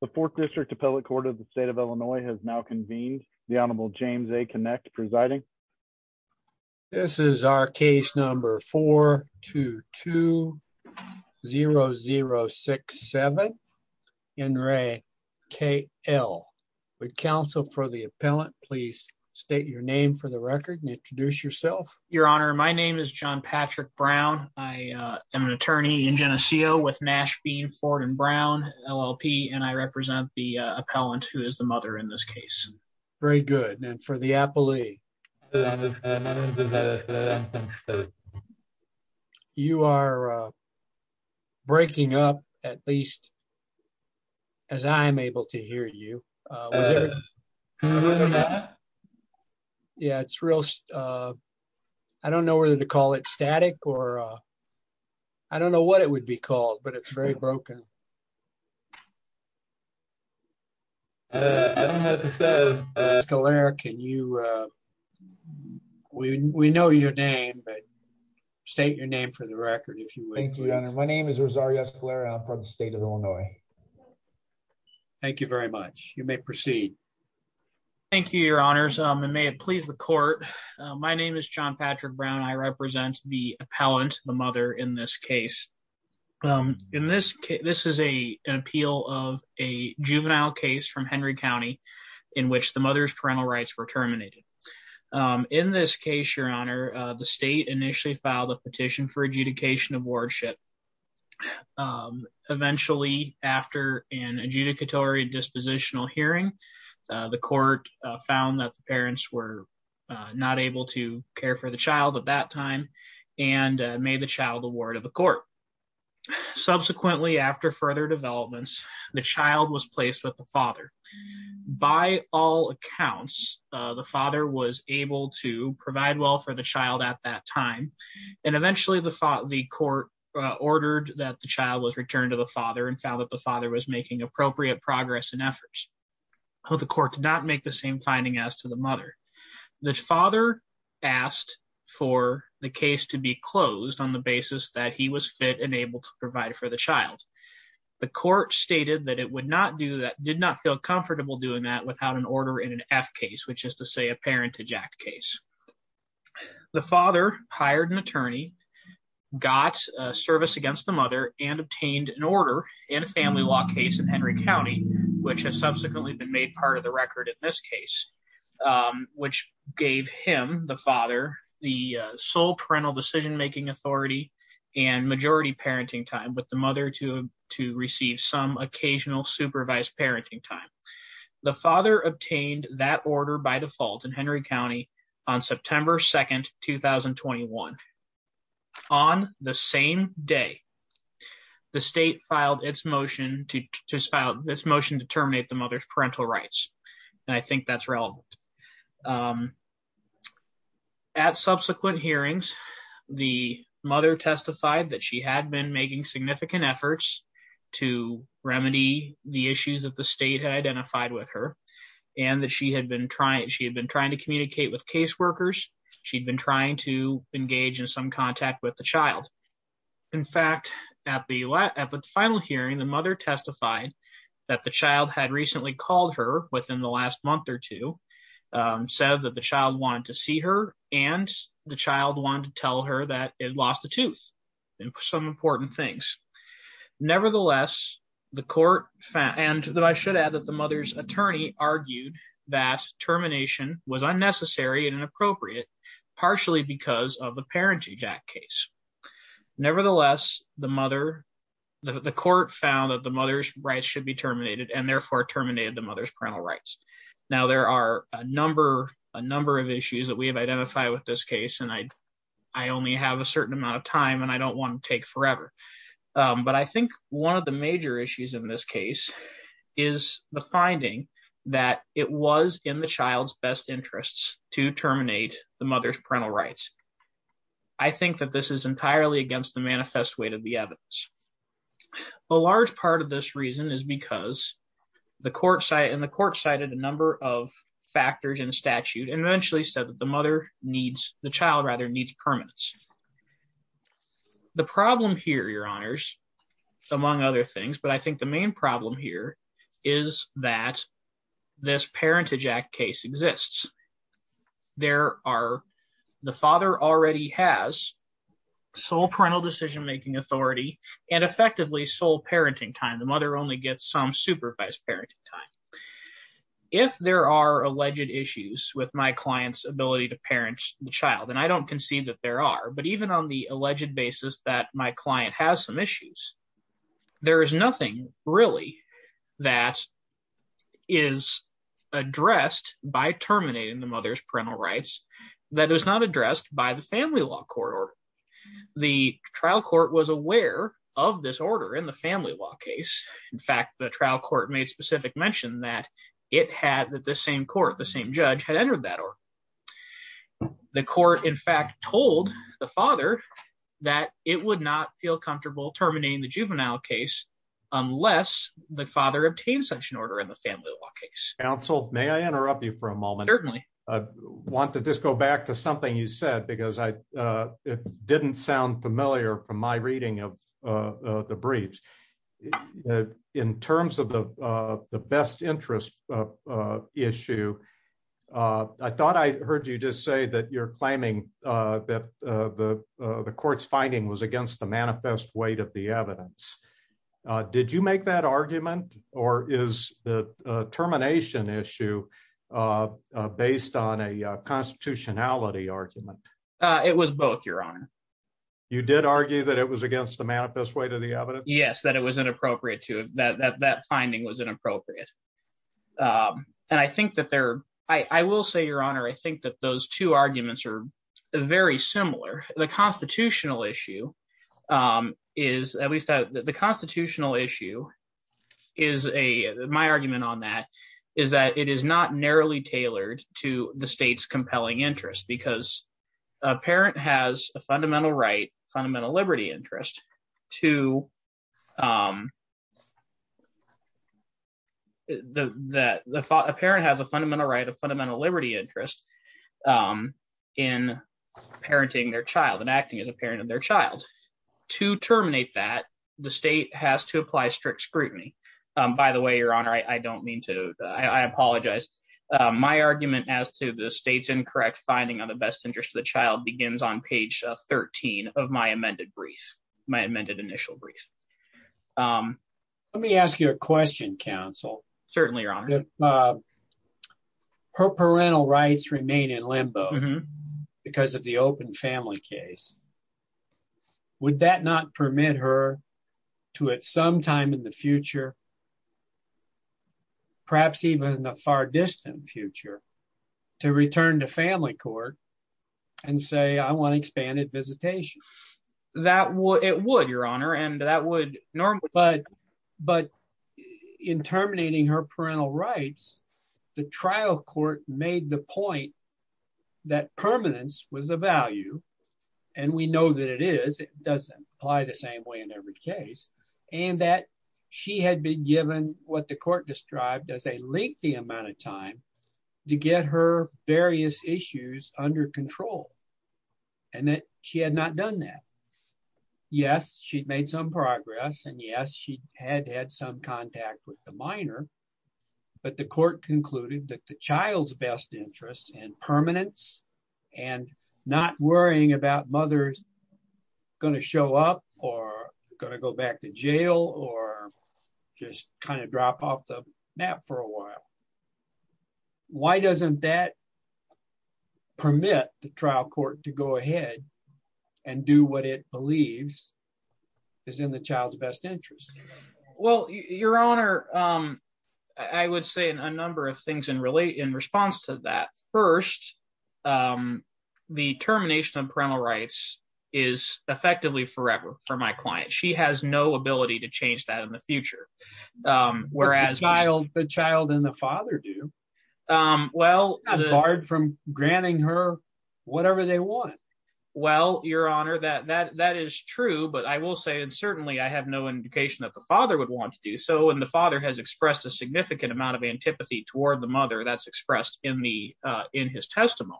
The Fourth District Appellate Court of the State of Illinois has now convened. The Honorable James A. Kinect presiding. This is our case number 422-0067, Henry K.L. Would counsel for the appellant please state your name for the record and introduce yourself. Your Honor, my name is John Patrick Brown. I am an attorney in Geneseo with Nashville Ford and Brown LLP and I represent the appellant who is the mother in this case. Very good. And for the appellee, you are breaking up at least as I'm able to hear you. Yeah, it's real. I don't know whether to call it static or I don't know what it would be called, it's very broken. Escalera, we know your name, but state your name for the record. My name is Rosario Escalera. I'm from the state of Illinois. Thank you very much. You may proceed. Thank you, Your Honors. And may it please the court. My name is John Patrick Brown. I represent the appellant, the mother in this case. In this case, this is an appeal of a juvenile case from Henry County in which the mother's parental rights were terminated. In this case, Your Honor, the state initially filed a petition for adjudication of wardship. Eventually, after an adjudicatory dispositional hearing, the court found that the parents were not able to care for the child at that time and made the child the ward of the court. Subsequently, after further developments, the child was placed with the father. By all accounts, the father was able to provide well for the child at that time, and eventually the court ordered that the child was returned to the father and found that the father was making appropriate progress and efforts. The court did not make the same finding as to the for the child. The court stated that it would not do that, did not feel comfortable doing that without an order in an F case, which is to say a parentage act case. The father hired an attorney, got service against the mother and obtained an order in a family law case in Henry County, which has subsequently been made part of the record in this case, which gave him, the father, the sole parental decision-making authority and majority parenting time with the mother to receive some occasional supervised parenting time. The father obtained that order by default in Henry County on September 2nd, 2021. On the same day, the state filed its motion to terminate the subsequent hearings. The mother testified that she had been making significant efforts to remedy the issues that the state had identified with her and that she had been trying to communicate with caseworkers. She'd been trying to engage in some contact with the child. In fact, at the final hearing, the mother testified that the child had recently called her within the last the child wanted to tell her that it lost a tooth and some important things. Nevertheless, the court found, and that I should add that the mother's attorney argued that termination was unnecessary and inappropriate, partially because of the parentage act case. Nevertheless, the mother, the court found that the mother's rights should be terminated and therefore terminated the mother's parental rights. Now there are a number of issues that we have identified with this case and I only have a certain amount of time and I don't want to take forever. But I think one of the major issues in this case is the finding that it was in the child's best interests to terminate the mother's parental rights. I think that this is entirely against the manifest weight of the evidence. A large part of this reason is because the court cited a number of factors in statute and eventually said that the child needs permanence. The problem here, your honors, among other things, but I think the main problem here is that this parentage act case exists. The father already has sole parental decision-making authority and effectively sole parenting time. The mother only gets some supervised parenting time. If there are alleged issues with my client's ability to parent the child, and I don't concede that there are, but even on the alleged basis that my client has some issues, there is nothing really that is addressed by terminating the mother's parental rights that is not addressed by the family law court. The trial court was aware of this order in the family law case. In fact, the trial court made specific mention that the same court, the same judge had entered that order. The court in fact told the father that it would not feel comfortable terminating the juvenile case unless the father obtained such an order in the family law case. Counsel, may I interrupt you for a moment? Certainly. Want to just go back to something you said because it didn't sound familiar from my reading of the briefs. In terms of the best interest issue, I thought I heard you just say that you're claiming that the court's finding was against the manifest weight of the evidence. Did you make that argument or is the termination issue based on a constitutionality argument? It was both, your honor. You did argue that it was against the manifest weight of the evidence? Yes, that it was inappropriate to, that that finding was inappropriate. And I think that there, I will say, your honor, I think that those two arguments are very similar. The constitutional issue is, at least the constitutional issue is a, my argument on that is that it is not narrowly tailored to the state's compelling interest because a parent has a fundamental right, fundamental liberty interest to, that a parent has a fundamental right, a fundamental liberty interest in parenting their child and acting as a parent of their child. To terminate that, the state has to apply strict scrutiny. By the way, your honor, I don't mean to, I apologize. My argument as to the state's incorrect finding on the best interest of the child begins on page 13 of my amended brief, my amended initial brief. Let me ask you a question, counsel. Certainly, your honor. Her parental rights remain in limbo because of the open family case. Would that not permit her to at some time in the future, perhaps even in the far distant future, to return to family court and say, I want to expand at visitation? That would, it would, your honor, and that would normally, but, but in terminating her parental rights, the trial court made the point that permanence was a value, and we know that it is, it doesn't apply the same way in every case, and that she had been given what the court described as a lengthy amount of time to get her various issues under control, and that she had not done that. Yes, she'd made some progress, and yes, she had had some contact with the minor, but the court concluded that the child's best interest in permanence and not worrying about her mother's going to show up or going to go back to jail or just kind of drop off the map for a while. Why doesn't that permit the trial court to go ahead and do what it believes is in the child's best interest? Well, your honor, I would say a number of things in response to that. First, the termination of parental rights is effectively forever for my client. She has no ability to change that in the future, whereas the child and the father do. Well, barred from granting her whatever they want. Well, your honor, that is true, but I will say, and certainly I have no indication that the father would want to do so, and the father has expressed a significant amount of antipathy toward the mother that's expressed in his testimony.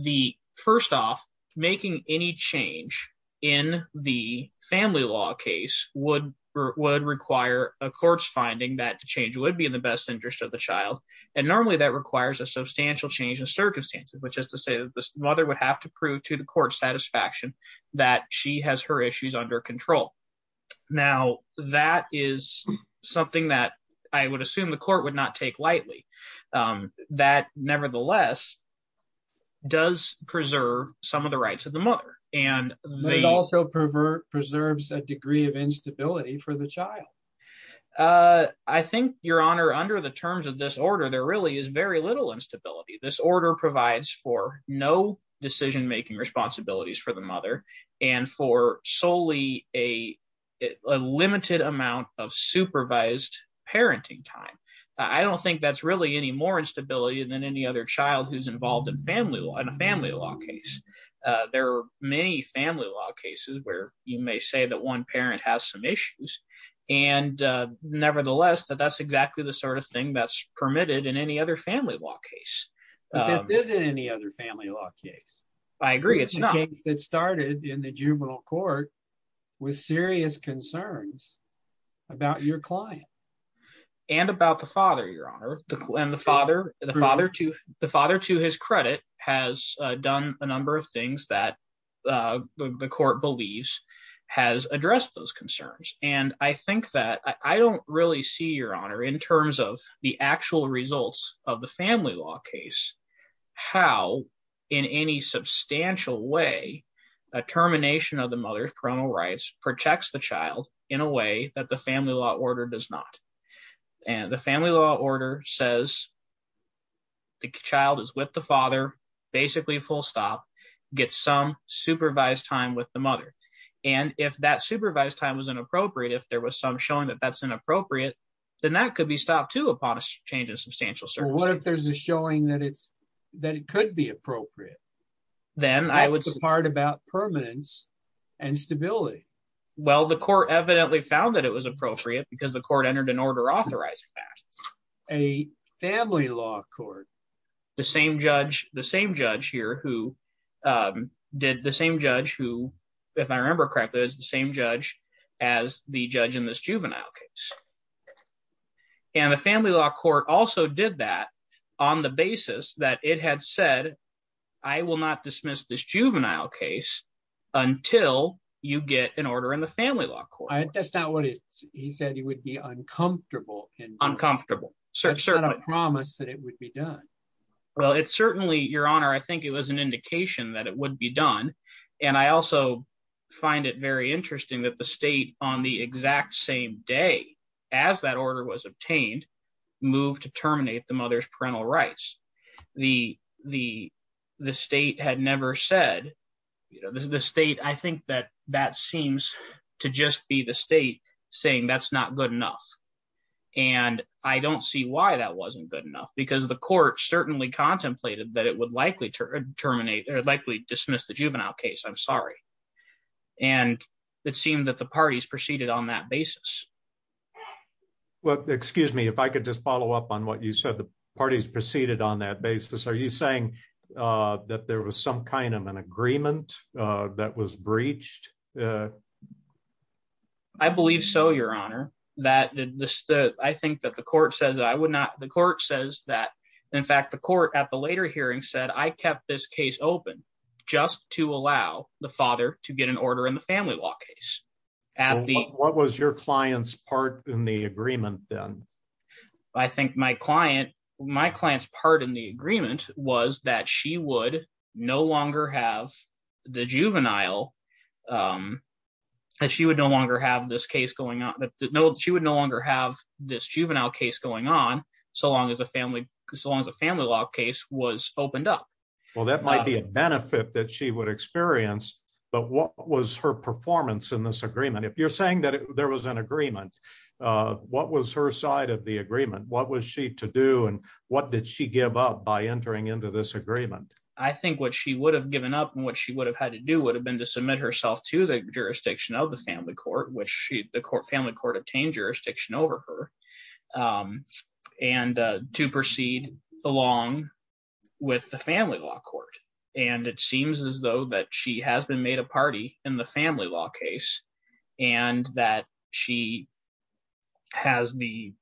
The first off, making any change in the family law case would require a court's finding that change would be in the best interest of the child, and normally that requires a substantial change in circumstances, which is to say that the mother would have to prove to the court's satisfaction that she has her issues under control. Now, that is something that I would assume the court would not take lightly. That, nevertheless, does preserve some of the rights of the mother. It also preserves a degree of instability for the child. I think, your honor, under the terms of this order, there really is very little instability. This order provides for no decision-making responsibilities for the mother, and for solely a limited amount of supervised parenting time. I don't think that's really any more instability than any other child who's involved in a family law case. There are many family law cases where you may say that one parent has some issues, and nevertheless, that that's exactly the sort of thing that's permitted in any other family law case. But this isn't any other family law case. I agree, it's not. It started in the juvenile court with serious concerns about your client. And about the father, your honor. The father, to his credit, has done a number of things that the court believes has addressed those concerns. And I think that I don't really see, your honor, in terms of the actual results of the way a termination of the mother's parental rights protects the child in a way that the family law order does not. The family law order says the child is with the father, basically full stop, gets some supervised time with the mother. And if that supervised time was inappropriate, if there was some showing that that's inappropriate, then that could be stopped, too, upon a change in substantial circumstances. What if there's a showing that it's that it could be appropriate? Then I would. That's the part about permanence and stability. Well, the court evidently found that it was appropriate because the court entered an order authorizing that. A family law court. The same judge, the same judge here who did the same judge who, if I remember correctly, is the same judge as the judge in this juvenile case. And the family law court also did that on the basis that it had said, I will not dismiss this juvenile case until you get an order in the family law court. And that's not what he said. He said he would be uncomfortable and uncomfortable. So I don't promise that it would be done. Well, it's certainly your honor. I think it was an indication that it would be done. And I also find it very interesting that the state on the exact same day as that order was obtained, moved to terminate the mother's parental rights. The state had never said, you know, the state, I think that that seems to just be the state saying that's not good enough. And I don't see why that wasn't good enough, because the court certainly contemplated that would likely to terminate or likely dismiss the juvenile case. I'm sorry. And it seemed that the parties proceeded on that basis. Well, excuse me, if I could just follow up on what you said, the parties proceeded on that basis. Are you saying that there was some kind of an agreement that was breached? I believe so, your honor, that I think that the court says I would not. The court says that, in fact, the court at the later hearing said I kept this case open just to allow the father to get an order in the family law case. What was your client's part in the agreement then? I think my client, my client's part in the agreement was that she would no longer have the juvenile, that she would no longer have this case going on, that she would no longer have this juvenile case going on so long as a family, so long as a family law case was opened up. Well, that might be a benefit that she would experience. But what was her performance in this agreement? If you're saying that there was an agreement, what was her side of the agreement? What was she to do? And what did she give up by entering into this agreement? I think what she would have given up and what she would have had to do would have been to submit herself to the jurisdiction of the family court, which the court, family court obtained jurisdiction over her, and to proceed along with the family law court. And it seems as though that she has been made a party in the family law case and that she has the,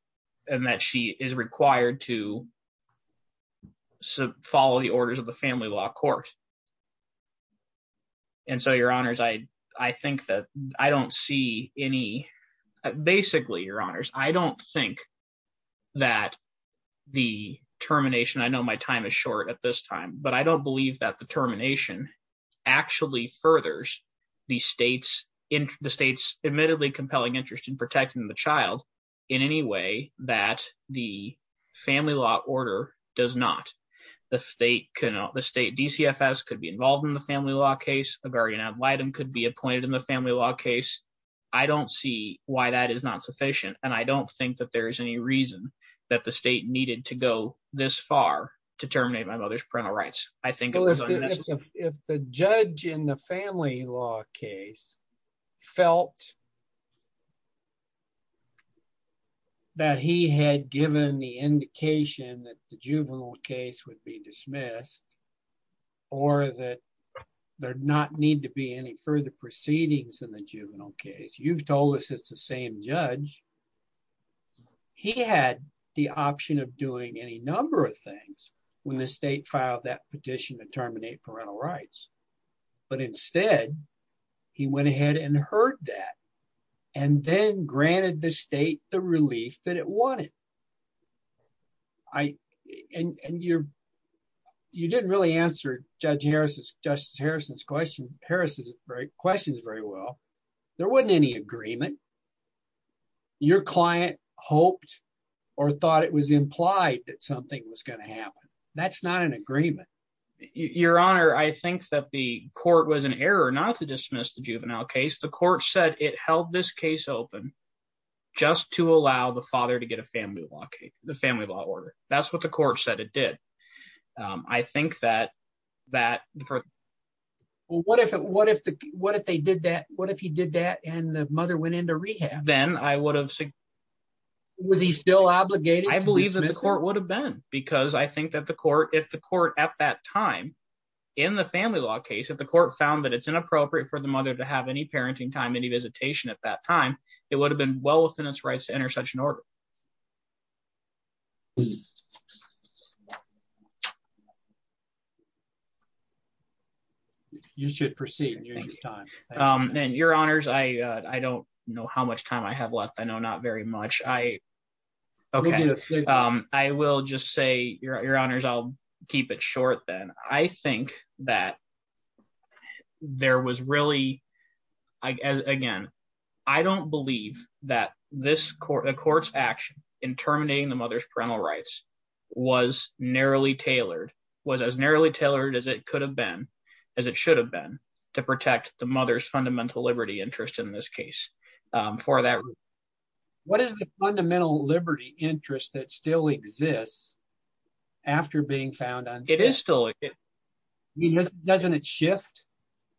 and that she is required to follow the orders of the family law court. And so, your honors, I, I think that I don't see any, basically, your honors, I don't think that the termination, I know my time is short at this time, but I don't believe that the termination actually furthers the state's, the state's admittedly compelling interest in protecting the child in any way that the family law order does not. The state cannot, the state DCFS could be involved in the family law case. A guardian ad litem could be appointed in the family law case. I don't see why that is not sufficient. And I don't think that there is any reason that the state needed to go this far to terminate my mother's parental rights. I think if the judge in the family law case felt that he had given the indication that the juvenile case would be dismissed or that there not need to be any further proceedings in the juvenile case. You've told us it's the same judge. He had the option of doing any number of things when the state filed that petition to terminate parental rights. But instead he went ahead and heard that and then granted the state the relief that it wanted. I, and you're, you didn't really answer Judge Harris's, Justice Harrison's question, Harris's questions very well. There wasn't any agreement. Your client hoped or thought it was implied that something was going to happen. That's not an agreement. Your Honor, I think that the court was in error not to dismiss the juvenile case. The court said it held this case open just to allow the father to get a family law case, the family law order. That's what the court said it did. I think that, that. What if, what if, what if they did that? What if he did that and the mother went into rehab? Then I would have. Was he still obligated? I believe that the court would have been because I think that the court, if the court at that time in the family law case, if the court found that it's inappropriate for the mother to have any parenting time, any visitation at that time, it would have been well within its rights to enter such an order. You should proceed. Then Your Honors, I, I don't know how much time I have left. I know not very much. Okay, I will just say, Your Honors, I'll keep it short then. I think that there was really, again, I don't believe that this court, the court's action in terminating the mother's parental rights was narrowly tailored, was as narrowly tailored as it could have been, as it should have been to protect the mother's fundamental liberty interest in this case. For that, what is the fundamental liberty interest that still exists after being found? It is still. Doesn't it shift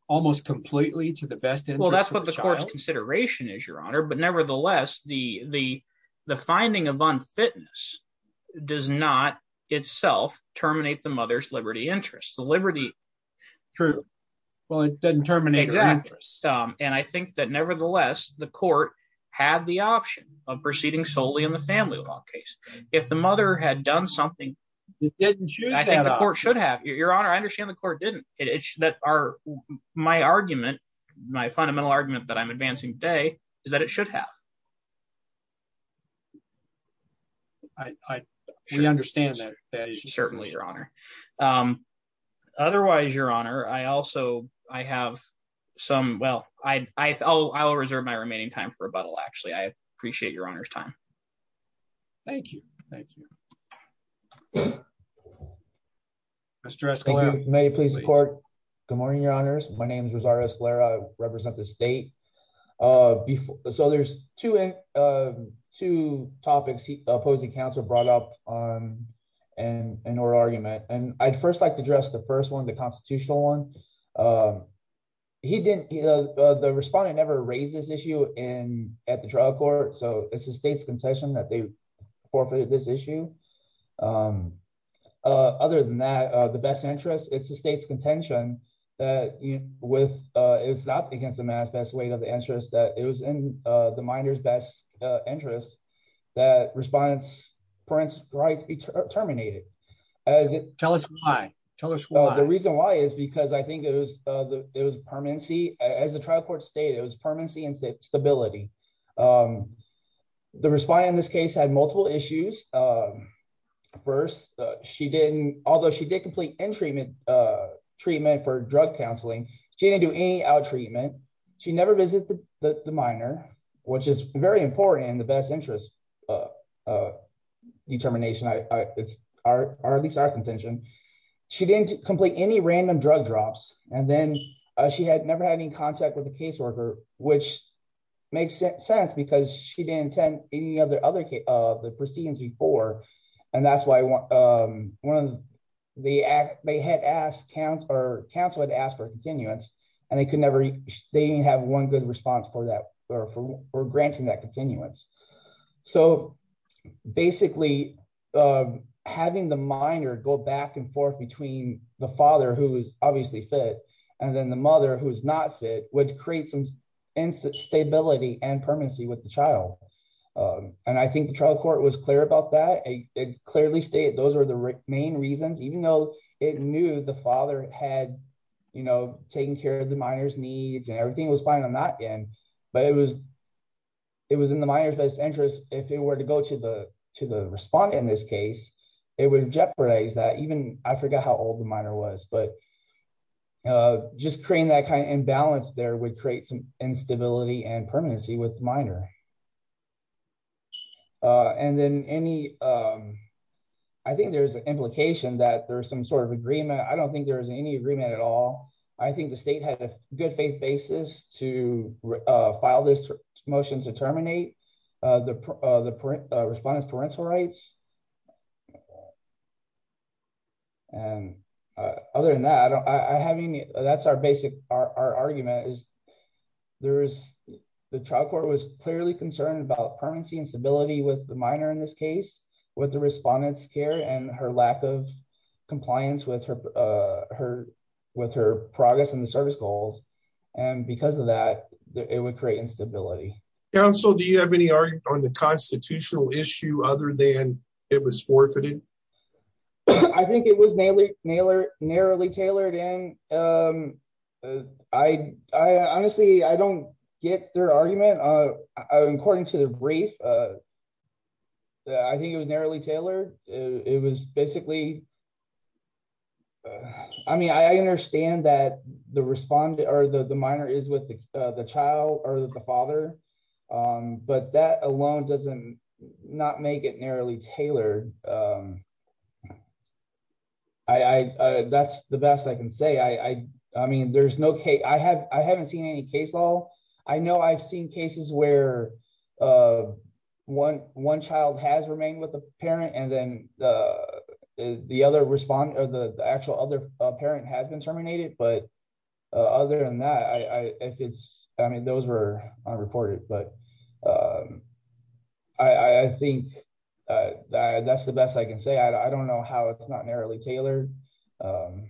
almost completely to the best interest of the child? Well, that's what the court's consideration is, Your Honor. But nevertheless, the, the, the finding of unfitness does not itself terminate the mother's liberty interest. The liberty. True. Well, it doesn't terminate her interest. And I think that nevertheless, the court had the option of proceeding solely in the family law case. If the mother had done something, I think the court should have. Your Honor, I understand the court didn't. It's that our, my argument, my fundamental argument that I'm advancing today is that it should have. I, I, we understand that. Certainly, Your Honor. Otherwise, Your Honor, I also, I have some, well, I, I, I'll, I'll reserve my remaining time for rebuttal, actually. I appreciate Your Honor's time. Thank you. Thank you. Mr. Escalero. May it please the court. Good morning, Your Honors. My name is Rosario Escalero. I represent the state. Uh, so there's two, uh, two topics he, opposing counsel brought up on and, and our argument. And I'd first like to address the first one, the constitutional one. Um, he didn't, uh, the respondent never raised this issue in, at the trial court. So it's the state's contention that they forfeited this issue. Um, uh, other than that, uh, the best interest, it's the state's contention that, you know, with, uh, it's not against the manifest weight of the interest that it was in, uh, the minor's best, uh, interest that respondents' rights be terminated. Tell us why. Tell us why. The reason why is because I think it was, uh, it was permanency as the trial court state, it was permanency and stability. Um, the respondent in this case had multiple issues. Um, first, uh, she didn't, although she did complete in treatment, uh, treatment for drug counseling, she didn't do any out treatment. She never visited the minor, which is very important in the best interest, uh, uh, determination. I, I, it's our, our, at least our contention. She didn't complete any random drug drops. And then, uh, she had never had any contact with a caseworker, which makes sense because she didn't attend any other, other, uh, the proceedings before. And that's why I want, um, one of the, uh, they had asked counts or counsel had asked for continuance and they could never, they didn't have one good response for that or, for, or granting that continuance. So basically, um, having the minor go back and forth between the father who is obviously fit. And then the mother who is not fit would create some instability and permanency with the child. Um, and I think the trial court was clear about that. It clearly stated, those are the main reasons, even though it knew the father had, you know, taking care of the minor's needs and everything was fine on that end, but it was, it was in the minor's best interest. If it were to go to the, to the respondent in this case, it would jeopardize that even I forgot how old the minor was, but, uh, just creating that kind of imbalance there would create some instability and permanency with minor. Uh, and then any, um, I think there's an implication that there's some sort of agreement. I don't think there was any agreement at all. I think the state had a good faith basis to, uh, file this motion to terminate, uh, the, uh, the parent, uh, respondent's parental rights. And, uh, other than that, I don't, I haven't, that's our basic, our, our argument is there the trial court was clearly concerned about permanency and stability with the minor in this case, with the respondent's care and her lack of compliance with her, uh, her, with her progress in the service goals. And because of that, it would create instability. Counsel, do you have any argument on the constitutional issue other than it was forfeited? I think it was narrowly tailored and, um, I, I honestly, I don't get their argument. Uh, according to the brief, uh, I think it was narrowly tailored. It was basically, I mean, I understand that the respondent or the minor is with the child or the father, um, but that alone doesn't not make it narrowly tailored. Um, I, I, uh, that's the best I can say. I, I, I mean, there's no case. I have, I haven't seen any case law. I know I've seen cases where, uh, one, one child has remained with the parent and then, uh, the other respondent or the actual other parent has been terminated. But, uh, other than that, I, I, if it's, I mean, those were unreported, but, um, I, I think, uh, that's the best I can say. I don't know how it's not narrowly tailored. Um,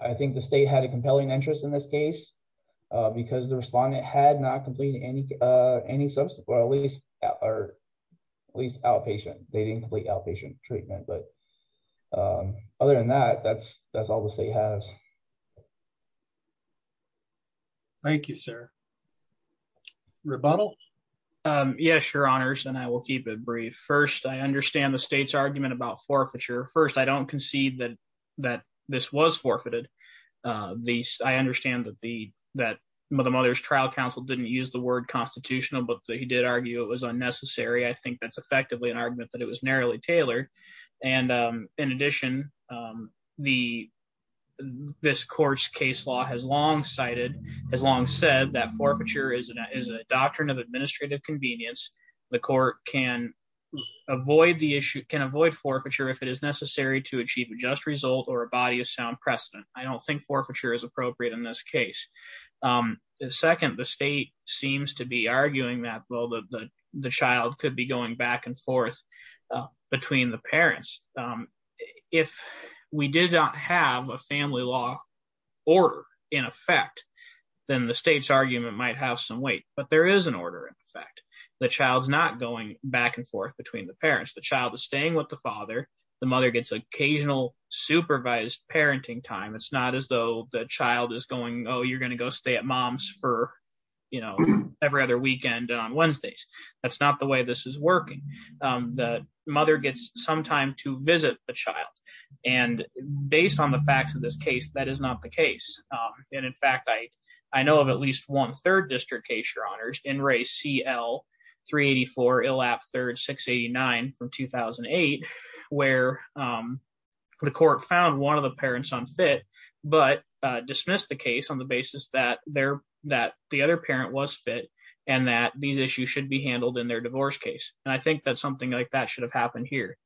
I think the state had a compelling interest in this case, uh, because the respondent had not completed any, uh, any subsequent, or at least outpatient, they didn't complete outpatient treatment. But, um, other than that, that's, that's all the state has. Thank you, sir. Rebuttal. Um, yeah, sure honors, and I will keep it brief. First, I understand the state's argument about forfeiture. First, I don't concede that, that this was forfeited. Uh, the, I understand that the, that the mother's trial counsel didn't use the word constitutional, but he did argue it was unnecessary. I think that's effectively an argument that it was narrowly tailored. And, um, in addition, um, the, this court's case law has long cited, has long said that doctrine of administrative convenience, the court can avoid the issue, can avoid forfeiture if it is necessary to achieve a just result or a body of sound precedent. I don't think forfeiture is appropriate in this case. Um, the second, the state seems to be arguing that, well, the, the, the child could be going back and forth, uh, between the parents. Um, if we did not have a family law order in effect, then the state's argument might have some weight. But there is an order in effect. The child's not going back and forth between the parents. The child is staying with the father. The mother gets occasional supervised parenting time. It's not as though the child is going, oh, you're going to go stay at mom's for, you know, every other weekend on Wednesdays. That's not the way this is working. Um, the mother gets some time to visit the child. And based on the facts of this case, that is not the case. And in fact, I, I know of at least one third district case, your honors in race CL-384 ILAP-3-689 from 2008, where, um, the court found one of the parents unfit, but, uh, dismissed the case on the basis that they're, that the other parent was fit and that these issues should be handled in their divorce case. And I think that something like that should have happened here.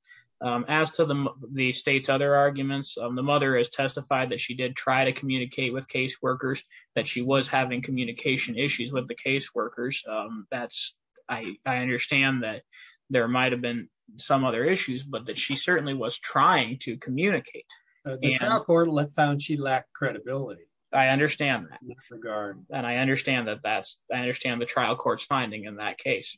As to the, the state's other arguments, um, the mother has testified that she did try to communicate with case workers, that she was having communication issues with the case workers. Um, that's, I, I understand that there might've been some other issues, but that she certainly was trying to communicate. The trial court found she lacked credibility. I understand that. And I understand that that's, I understand the trial court's finding in that case.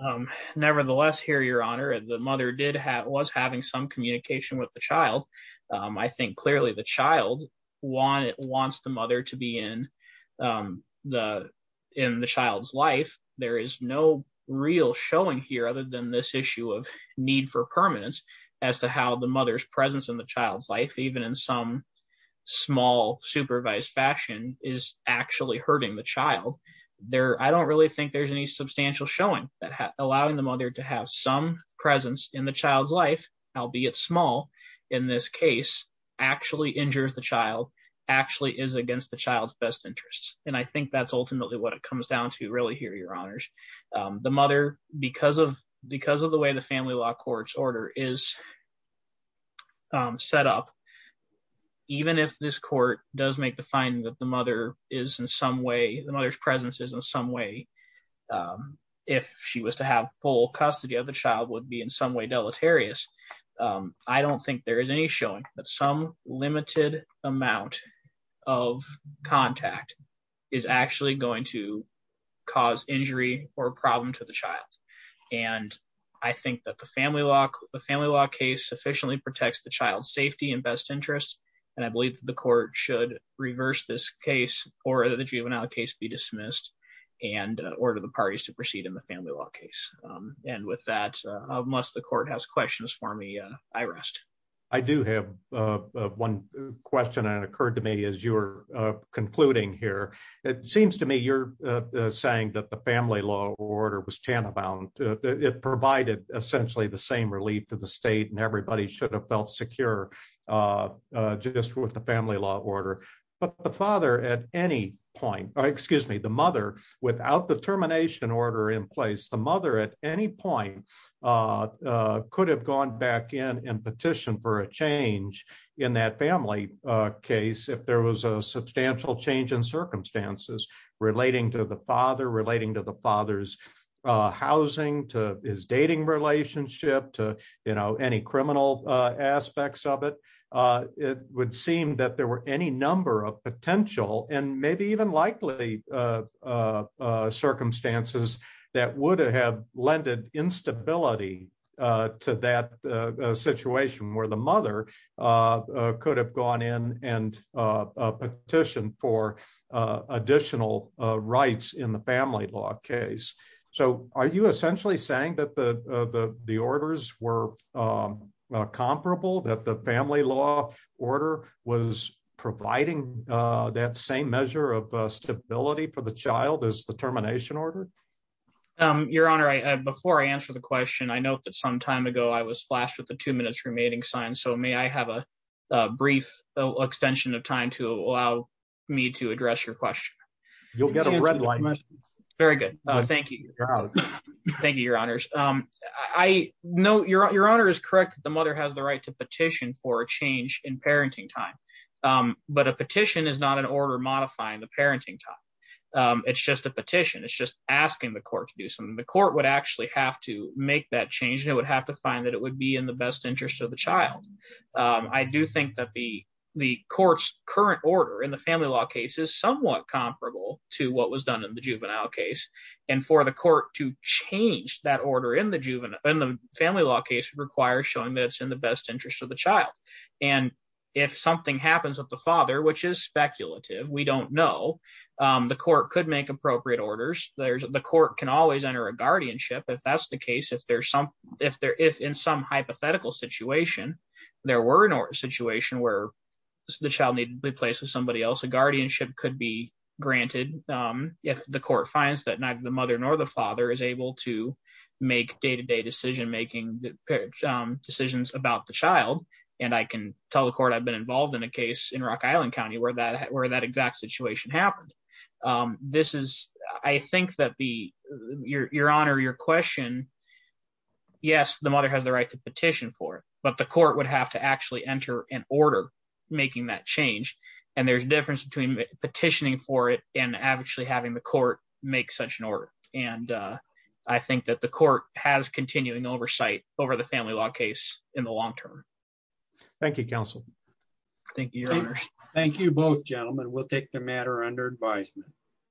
Um, nevertheless, here, your honor, the mother did have, was having some communication with the child. Um, I think clearly the child wants the mother to be in, um, the, in the child's life. There is no real showing here other than this issue of need for permanence as to how the mother's presence in the child's life, even in some small supervised fashion is actually hurting the child. There, I don't really think there's any substantial showing that allowing the mother to have some presence in the child's life, albeit small in this case, actually injures the child actually is against the child's best interests. And I think that's ultimately what it comes down to really here, your honors, um, the mother, because of, because of the way the family law court's order is, um, set up, even if this court does make the finding that the mother is in some way, the mother's presence is in some way, um, if she was to have full custody of the child would be in some way deleterious. Um, I don't think there is any showing that some limited amount of contact is actually going to cause injury or a problem to the child. And I think that the family law, the family law case sufficiently protects the child's safety and best interests. And I believe that the court should reverse this case or the juvenile case be dismissed and order the parties to proceed in the family law case. And with that, unless the court has questions for me, I rest. I do have one question that occurred to me as you're concluding here. It seems to me you're saying that the family law order was tantamount, it provided essentially the same relief to the state and everybody should have felt secure, uh, uh, just with the family law order, but the father at any point, or excuse me, the mother without the termination order in place, the mother at any point, uh, uh, could have gone back in and petitioned for a change in that family, uh, case. If there was a substantial change in circumstances relating to the father, relating to the father's, uh, housing to his dating relationship to, you know, any criminal, uh, aspects of it, uh, it would seem that there were any number of potential and maybe even likely, uh, uh, circumstances that would have lended instability, uh, to that, uh, uh, situation where the mother, uh, uh, could have gone in and, uh, uh, petition for, uh, additional, uh, rights in the family law case. So are you essentially saying that the, uh, the, the orders were, um, uh, comparable that the family law order was providing, uh, that same measure of stability for the child as the termination order? Um, your honor, I, uh, before I answer the question, I know that some time ago I was flashed with the two minutes remaining sign. So may I have a, uh, brief extension of time to allow me to address your question? You'll get a red light. Very good. Thank you. Thank you, your honors. Um, I know your, your honor is correct. The mother has the right to petition for a change in parenting time. Um, but a petition is not an order modifying the parenting time. Um, it's just a petition. It's just asking the court to do something. The court would actually have to make that change and it would have to find that it would be in the best interest of the child. Um, I do think that the, the court's current order in family law case is somewhat comparable to what was done in the juvenile case and for the court to change that order in the juvenile and the family law case requires showing that it's in the best interest of the child. And if something happens with the father, which is speculative, we don't know. Um, the court could make appropriate orders. There's the court can always enter a guardianship if that's the case. If there's some, if there, if in some hypothetical situation, there were an order situation where the child needed to be placed with somebody else, a guardianship could be granted. Um, if the court finds that neither the mother nor the father is able to make day-to-day decision-making, um, decisions about the child. And I can tell the court I've been involved in a case in Rock Island County where that, where that exact situation happened. Um, this is, I think that the, your, your honor, your question, yes, the mother has the right to petition for it, but the court would have to actually enter an order making that change. And there's a difference between petitioning for it and actually having the court make such an order. And, uh, I think that the court has continuing oversight over the family law case in the long-term. Thank you, counsel. Thank you, your honors. Thank you both gentlemen. We'll take the matter under advisement.